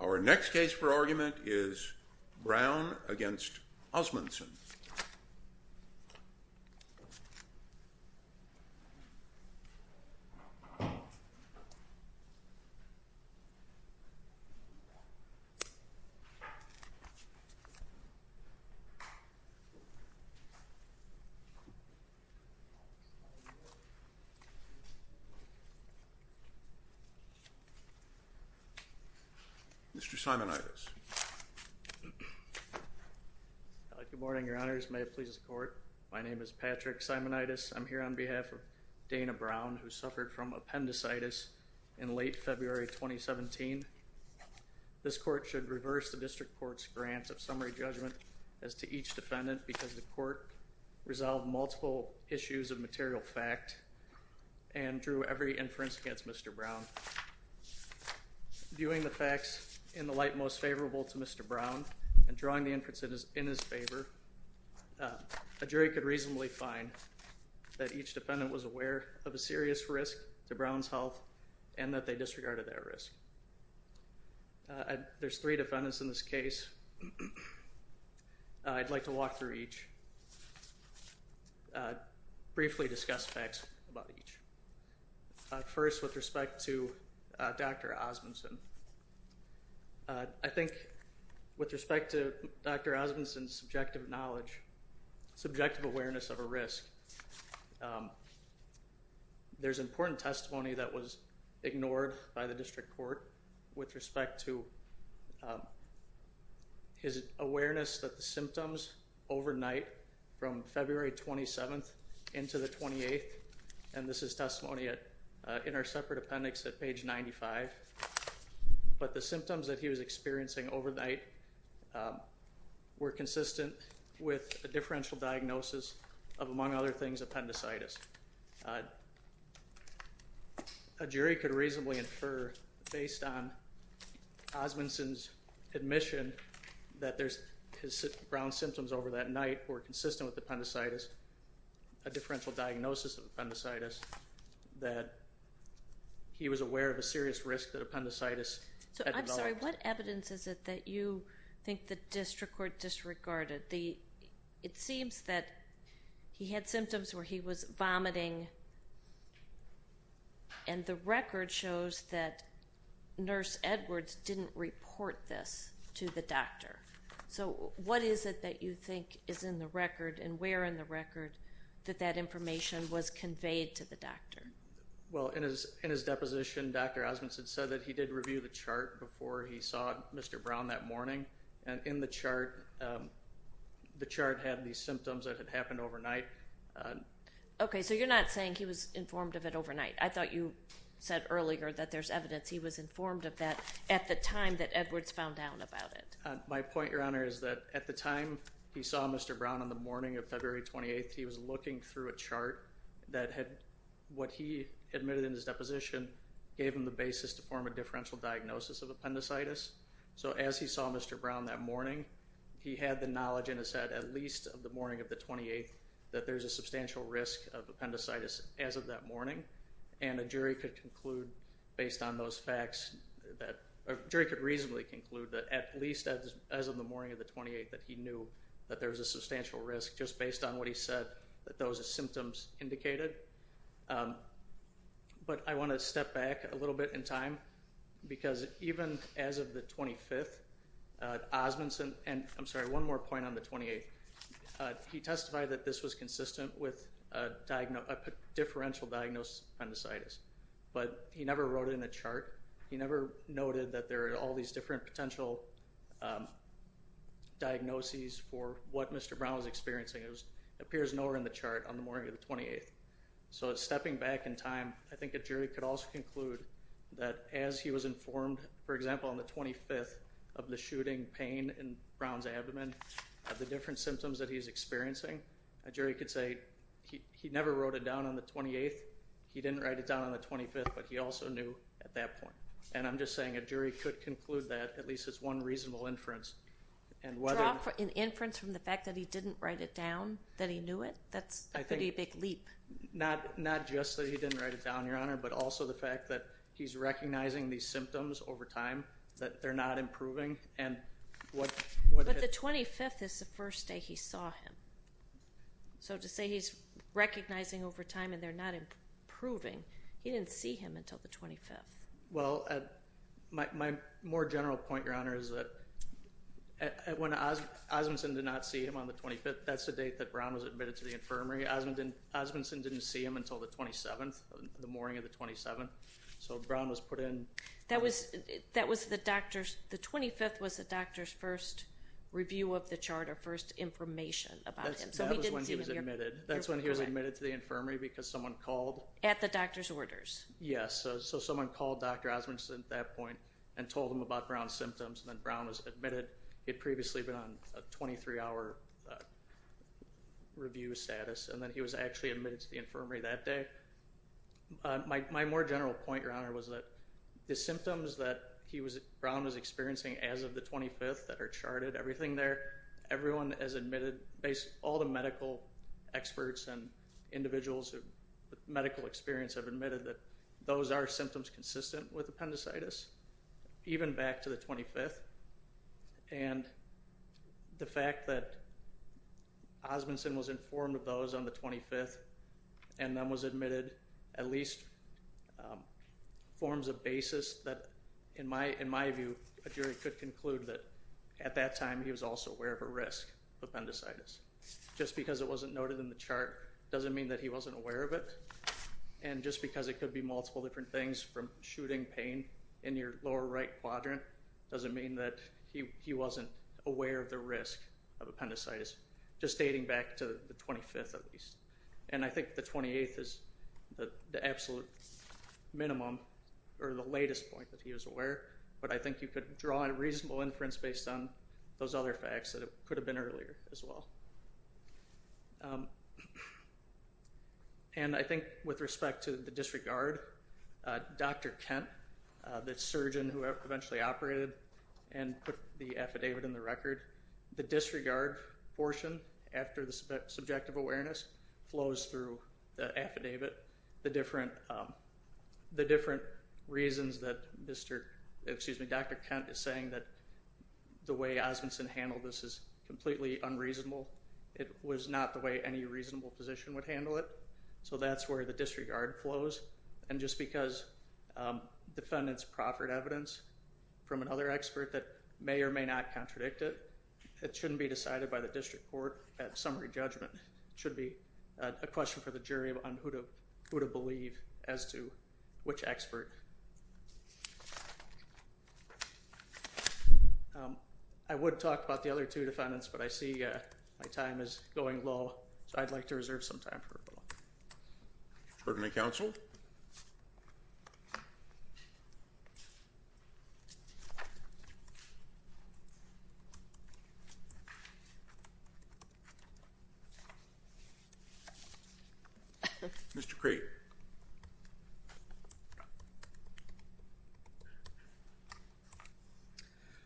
Our next case for argument is Brown v. Osmundson. Mr. Simonitis. Good morning, your honors. May it please the court. My name is Patrick Simonitis. I'm here on behalf of Dana Brown, who suffered from appendicitis in late February 2017. This court should reverse the district court's grant of summary judgment as to each defendant because the court resolved multiple issues of material fact and drew every inference against Mr. Brown. Viewing the facts in the light most favorable to Mr. Brown and drawing the inference in his favor, a jury could reasonably find that each defendant was aware of a serious risk to Brown's health and that they disregarded that risk. There's three defendants in this case. I'd like to walk through each, briefly discuss facts about each. First, with respect to Dr. Osmundson. I think with respect to Dr. Osmundson's subjective knowledge, subjective awareness of a risk, there's important testimony that was ignored by the district court with respect to his awareness that the symptoms overnight from February 27th into the 28th, and this is testimony in our separate appendix at page 95, but the symptoms that he was experiencing overnight were consistent with a differential diagnosis of, among other things, appendicitis. A jury could reasonably infer, based on Osmundson's admission that his Brown symptoms over that night were consistent with appendicitis, a differential diagnosis of appendicitis, that he was aware of a serious risk that appendicitis had developed. I'm sorry, what evidence is it that you think the district court disregarded? It seems that he had symptoms where he was vomiting and the record shows that Nurse Edwards didn't report this to the doctor. So what is it that you think is in the record and where in the record that that information was conveyed to the doctor? Well, in his deposition, Dr. Osmundson said that he did review the chart before he saw Mr. Brown that morning, and in the chart, the chart had these symptoms that had happened overnight. Okay, so you're not saying he was informed of it overnight. I thought you said earlier that there's evidence he was informed of that at the time that Edwards found out about it. My point, Your Honor, is that at the time he saw Mr. Brown on the morning of February 28th, he was looking through a chart that had what he admitted in his deposition gave him the basis to form a differential diagnosis of appendicitis. So as he saw Mr. Brown that morning, he had the knowledge and has said at least of the morning of the 28th that there's a substantial risk of appendicitis as of that morning. And a jury could reasonably conclude that at least as of the morning of the 28th that he knew that there was a substantial risk just based on what he said that those symptoms indicated. But I want to step back a little bit in time because even as of the 25th, Osmundson, and I'm sorry, one more point on the 28th, he testified that this was consistent with a differential diagnosis of appendicitis. But he never wrote it in a chart. He never noted that there are all these different potential diagnoses for what Mr. Brown was experiencing. It appears nowhere in the chart on the morning of the 28th. So stepping back in time, I think a jury could also conclude that as he was informed, for example, on the 25th of the shooting pain in Brown's abdomen of the different symptoms that he's experiencing, a jury could say he never wrote it down on the 28th. He didn't write it down on the 25th, but he also knew at that point. And I'm just saying a jury could conclude that at least as one reasonable inference. An inference from the fact that he didn't write it down, that he knew it? That's a pretty big leap. Not just that he didn't write it down, Your Honor, but also the fact that he's recognizing these symptoms over time, that they're not improving. But the 25th is the first day he saw him. So to say he's recognizing over time and they're not improving, he didn't see him until the 25th. Well, my more general point, Your Honor, is that when Osmondson did not see him on the 25th, that's the date that Brown was admitted to the infirmary. Osmondson didn't see him until the 27th, the morning of the 27th. So Brown was put in. That was the doctor's, the 25th was the doctor's first review of the chart or first information about him. That was when he was admitted. That's when he was admitted to the infirmary because someone called. At the doctor's orders. Yes. So someone called Dr. Osmondson at that point and told him about Brown's symptoms and then Brown was admitted. He had previously been on a 23-hour review status and then he was actually admitted to the infirmary that day. My more general point, Your Honor, was that the symptoms that he was, Brown was experiencing as of the 25th that are charted, everything there, everyone has admitted, all the medical experts and individuals with medical experience have admitted that those are symptoms consistent with appendicitis, even back to the 25th. And the fact that Osmondson was informed of those on the 25th and then was admitted at least forms a basis that, in my view, a jury could conclude that at that time he was also aware of a risk of appendicitis. Just because it wasn't noted in the chart doesn't mean that he wasn't aware of it. And just because it could be multiple different things from shooting pain in your lower right quadrant doesn't mean that he wasn't aware of the risk of appendicitis, just dating back to the 25th at least. And I think the 28th is the absolute minimum or the latest point that he was aware, but I think you could draw a reasonable inference based on those other facts that it could have been earlier as well. And I think with respect to the disregard, Dr. Kent, the surgeon who eventually operated and put the affidavit in the record, the disregard portion after the subjective awareness flows through the affidavit. The different reasons that Dr. Kent is saying that the way Osmondson handled this is completely unreasonable. It was not the way any reasonable physician would handle it. So that's where the disregard flows. And just because defendants proffered evidence from another expert that may or may not contradict it, it shouldn't be decided by the district court at summary judgment. It should be a question for the jury on who to believe as to which expert. I would talk about the other two defendants, but I see my time is going low, so I'd like to reserve some time for them. Permanent counsel. Mr. Crate.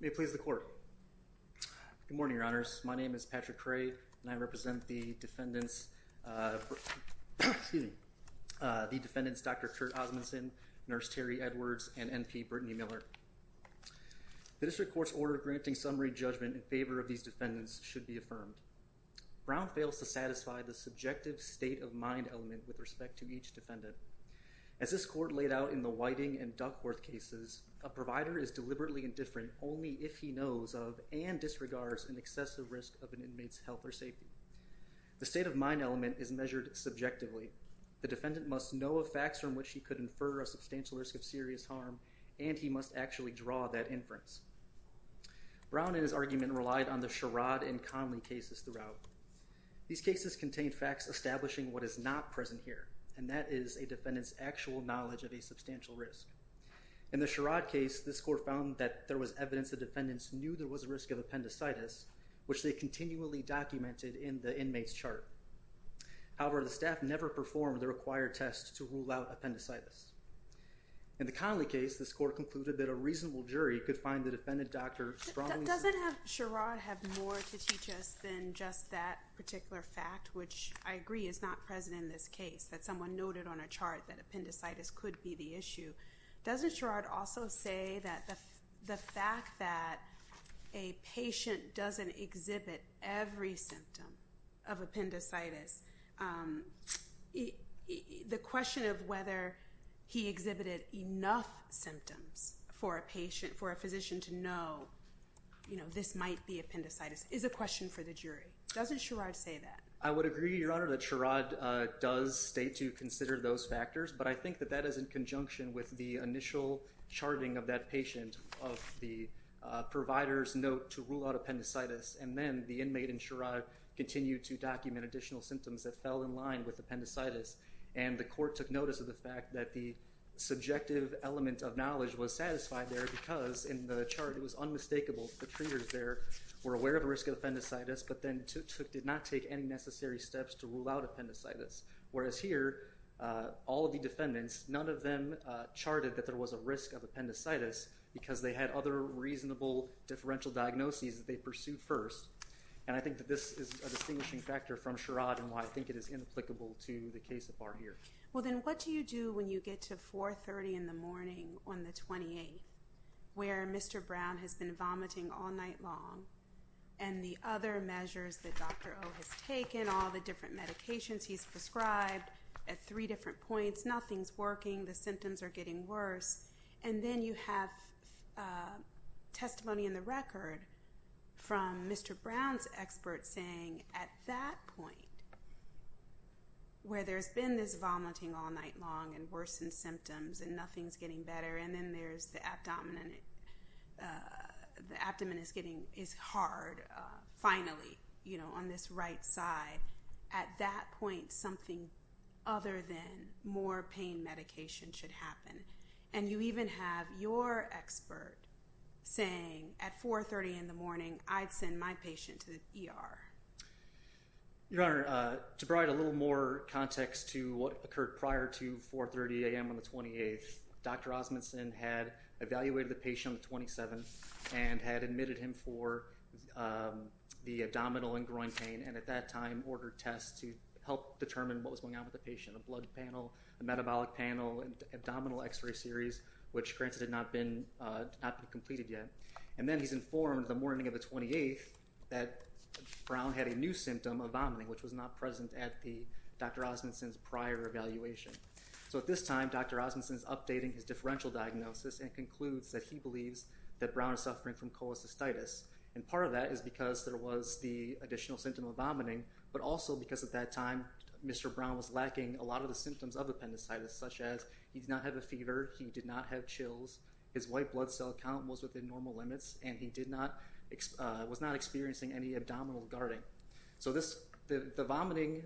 May it please the court. Good morning, your honors. My name is Patrick Crate and I represent the defendants. The defendants, Dr. Kurt Osmondson, Nurse Terry Edwards and N.P. Brittany Miller. The district court's order granting summary judgment in favor of these defendants should be affirmed. Brown fails to satisfy the subjective state of mind element with respect to each defendant. As this court laid out in the Whiting and Duckworth cases, a provider is deliberately indifferent only if he knows of and disregards an excessive risk of an inmate's health or safety. The state of mind element is measured subjectively. The defendant must know of facts from which he could infer a substantial risk of serious harm, and he must actually draw that inference. Brown and his argument relied on the Sherrod and Conley cases throughout. These cases contained facts establishing what is not present here, and that is a defendant's actual knowledge of a substantial risk. In the Sherrod case, this court found that there was evidence the defendants knew there was a risk of appendicitis, which they continually documented in the inmate's chart. However, the staff never performed the required tests to rule out appendicitis. In the Conley case, this court concluded that a reasonable jury could find the defendant doctor strongly... Doesn't Sherrod have more to teach us than just that particular fact, which I agree is not present in this case, that someone noted on a chart that appendicitis could be the issue. Doesn't Sherrod also say that the fact that a patient doesn't exhibit every symptom of appendicitis, the question of whether he exhibited enough symptoms for a physician to know this might be appendicitis, is a question for the jury. Doesn't Sherrod say that? I would agree, Your Honor, that Sherrod does state to consider those factors, but I think that that is in conjunction with the initial charting of that patient, of the provider's note to rule out appendicitis, and then the inmate in Sherrod continued to document additional symptoms that fell in line with appendicitis, and the court took notice of the fact that the subjective element of knowledge was satisfied there, because in the chart it was unmistakable. The treaters there were aware of the risk of appendicitis, but then did not take any necessary steps to rule out appendicitis. Whereas here, all of the defendants, none of them charted that there was a risk of appendicitis, because they had other reasonable differential diagnoses that they pursued first, and I think that this is a distinguishing factor from Sherrod, and why I think it is inapplicable to the case of Barr here. Well then what do you do when you get to 4.30 in the morning on the 28th, where Mr. Brown has been vomiting all night long, and the other measures that Dr. O has taken, all the different medications he's prescribed at three different points, nothing's working, the symptoms are getting worse, and then you have testimony in the record from Mr. Brown's expert saying, at that point, where there's been this vomiting all night long, and worsened symptoms, and nothing's getting better, and then the abdomen is hard, finally, on this right side, at that point, something other than more pain medication should happen. And you even have your expert saying, at 4.30 in the morning, I'd send my patient to the ER. Your Honor, to provide a little more context to what occurred prior to 4.30 a.m. on the 28th, Dr. Osmundson had evaluated the patient on the 27th, and had admitted him for the abdominal and groin pain, and at that time, ordered tests to help determine what was going on with the patient, a blood panel, a metabolic panel, abdominal x-ray series, which granted had not been completed yet, and then he's informed the morning of the 28th that Brown had a new symptom of vomiting, which was not present at Dr. Osmundson's prior evaluation. So at this time, Dr. Osmundson's updating his differential diagnosis, and concludes that he believes that Brown is suffering from cholecystitis, and part of that is because there was the additional symptom of vomiting, but also because at that time, Mr. Brown was lacking a lot of the symptoms of appendicitis, such as he did not have a fever, he did not have chills, his white blood cell count was within normal limits, and he was not experiencing any abdominal guarding. So the vomiting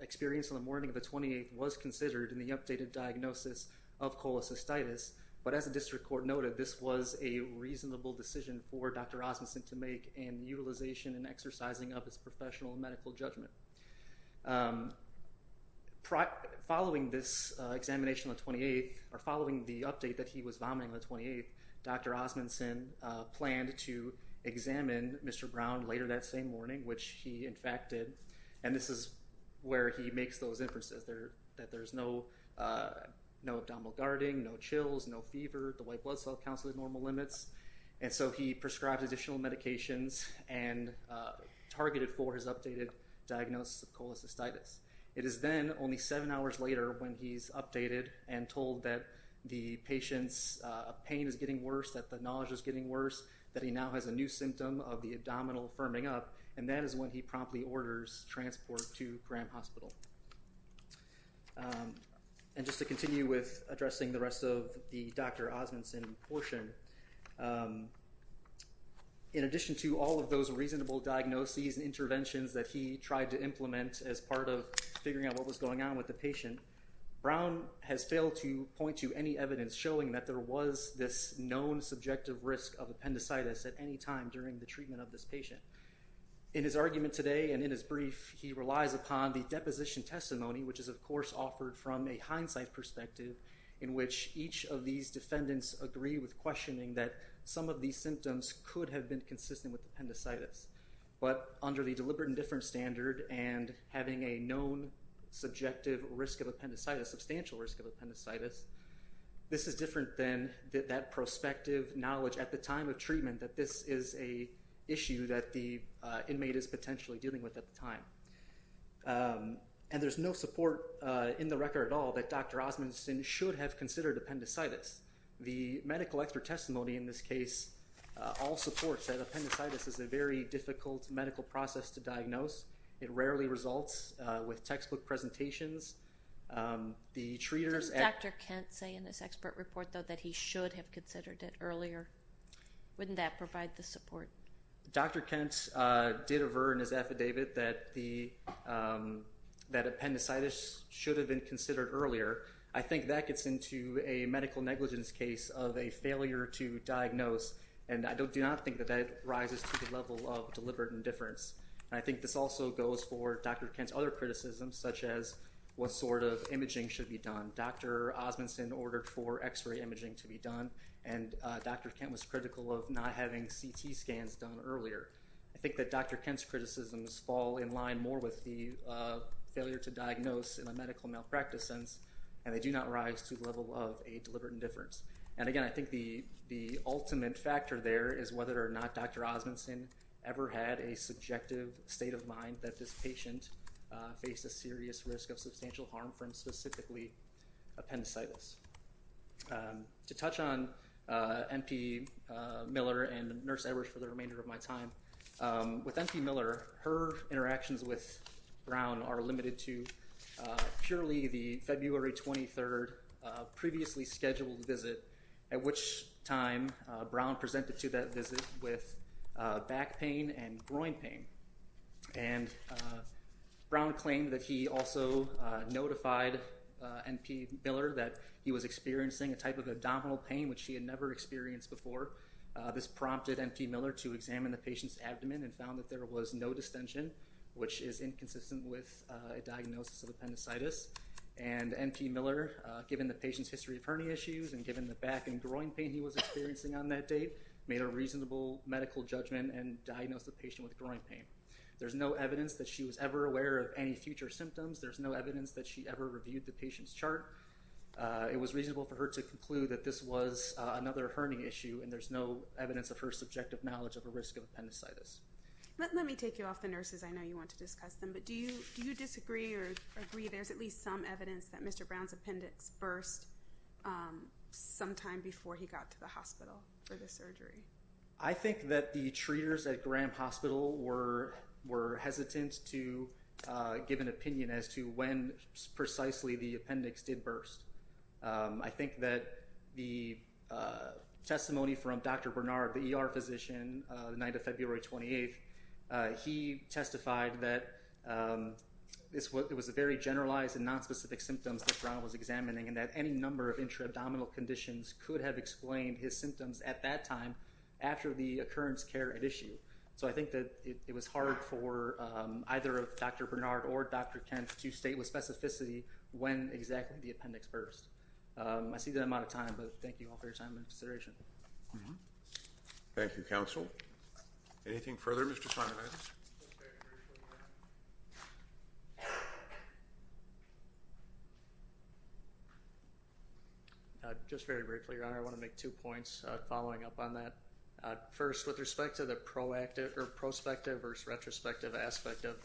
experience on the morning of the 28th was considered in the updated diagnosis of cholecystitis, but as the district court noted, this was a reasonable decision for Dr. Osmundson to make in utilization and exercising of his professional medical judgment. Following this examination on the 28th, or following the update that he was vomiting on the 28th, Dr. Osmundson planned to examine Mr. Brown later that same morning, which he in fact did, and this is where he makes those inferences, that there's no abdominal guarding, no chills, no fever, his white blood cell count's within normal limits, and so he prescribed additional medications and targeted for his updated diagnosis of cholecystitis. It is then only seven hours later when he's updated and told that the patient's pain is getting worse, that the nausea's getting worse, that he now has a new symptom of the abdominal firming up, and that is when he promptly orders transport to Graham Hospital. And just to continue with addressing the rest of the motion, in addition to all of those reasonable diagnoses and interventions that he tried to implement as part of figuring out what was going on with the patient, Brown has failed to point to any evidence showing that there was this known subjective risk of appendicitis at any time during the treatment of this patient. In his argument today and in his brief, he relies upon the deposition testimony, which is of course offered from a hindsight perspective in which each of these defendants agree with questioning that some of these symptoms could have been consistent with appendicitis, but under the deliberate indifference standard and having a known subjective risk of appendicitis, substantial risk of appendicitis, this is different than that prospective knowledge at the time of treatment that this is an issue that the inmate is potentially dealing with at the time. And there's no support in the record at all that Dr. Osmundson should have considered appendicitis. The medical expert testimony in this case all supports that appendicitis is a very difficult medical process to diagnose. It rarely results with textbook presentations. The treaters... Does Dr. Kent say in this expert report, though, that he should have considered it earlier? Wouldn't that provide the support? Dr. Kent did avert in his affidavit that appendicitis should have been considered earlier. I think that gets into a medical negligence case of a failure to diagnose, and I do not think that that rises to the level of deliberate indifference. And I think this also goes for Dr. Kent's other criticisms, such as what sort of imaging should be done. Dr. Osmundson ordered for X-ray imaging to be done, and Dr. Kent was critical of not having CT scans done earlier. I think that Dr. Kent's criticisms fall in line more with the failure to diagnose in a medical malpractice sense, and they do not rise to the level of a deliberate indifference. And again, I think the ultimate factor there is whether or not Dr. Osmundson ever had a subjective state of mind that this patient faced a serious risk of substantial harm from specifically appendicitis. To touch on M.P. Miller and Nurse Edwards for the remainder of my time, with M.P. Miller, her interactions with Brown are limited to purely the February 23rd previously scheduled visit, at which time Brown presented to that visit with back pain and groin pain. And Brown claimed that he also notified M.P. Miller that he was experiencing a type of abdominal pain which he had never experienced before. This prompted M.P. Miller to examine the patient's abdomen and found that there was no distension, which is inconsistent with a diagnosis of appendicitis. And M.P. Miller, given the patient's history of hernia issues and given the back and groin pain he was experiencing on that date, made a reasonable medical judgment and diagnosed the patient with groin pain. There's no evidence that she was ever aware of any future symptoms. There's no evidence that she ever reviewed the patient's chart. It was reasonable for her to conclude that this was another hernia issue and there's no evidence of her subjective knowledge of a risk of appendicitis. Let me take you off the nurses. I know you want to discuss them, but do you disagree or agree there's at least some evidence that Mr. Brown's appendix burst sometime before he got to the hospital for the surgery? I think that the treaters at Graham Hospital were hesitant to give an opinion as to when precisely the appendix did burst. I think that the testimony from Dr. Bernard, the ER physician, the night of February 28th, he testified that it was a very generalized and nonspecific symptoms that Brown was examining and that any number of intra-abdominal conditions could have explained his symptoms at that time after the occurrence care had issued. So I think that it was hard for either Dr. Bernard or Dr. Kent to state with specificity when exactly the appendix burst. I see the amount of time, but thank you all for your time and consideration. Thank you, counsel. Anything further, Mr. Simonides? Just very briefly, Your Honor. I want to make two points following up on that. First, with respect to the prospective versus retrospective aspect of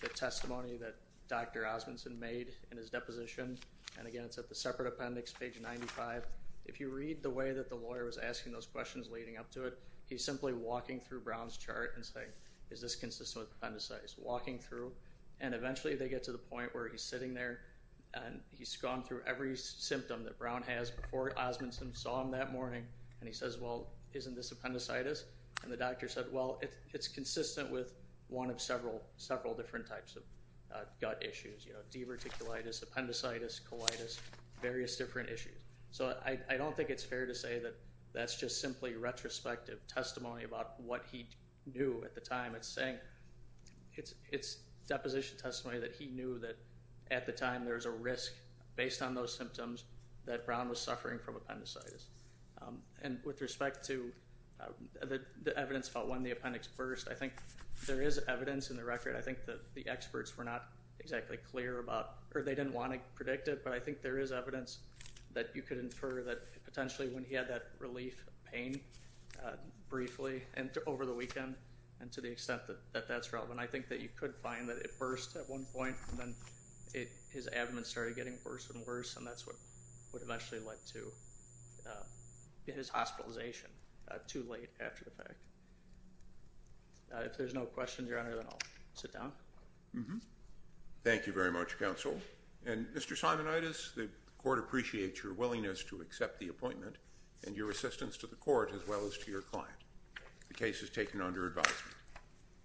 the testimony that Dr. Osmundson made in his deposition, and again, it's at the separate appendix, page 95, if you read the way that the lawyer was asking those questions leading up to it, he's simply walking through Brown's chart and saying, is this consistent with appendicitis? Walking through, and eventually they get to the point where he's sitting there and he's gone through every symptom that Brown has before Osmundson saw him that morning, and he says, well, isn't this appendicitis? And the doctor said, well, it's consistent with one of several different types of gut issues, you know, diverticulitis, appendicitis, colitis, various different issues. So I don't think it's fair to say that that's just simply retrospective testimony about what he knew at the time. It's saying, it's deposition testimony that he knew that at the time there was a risk based on those symptoms that Brown was suffering from appendicitis. And with respect to the evidence about when the appendix burst, there is evidence in the record, I think that the experts were not exactly clear about, or they didn't want to predict it, but I think there is evidence that you could infer that potentially when he had that relief pain briefly and over the weekend, and to the extent that that's relevant, I think that you could find that it burst at one point, and then his abdomen started getting worse and worse, and that's what eventually led to his hospitalization too late after the fact. If there's no questions, Your Honor, then I'll sit down. Thank you very much, counsel. And Mr. Simonitis, the court appreciates your willingness to accept the appointment and your assistance to the court as well as to your client. The case is taken under advisement.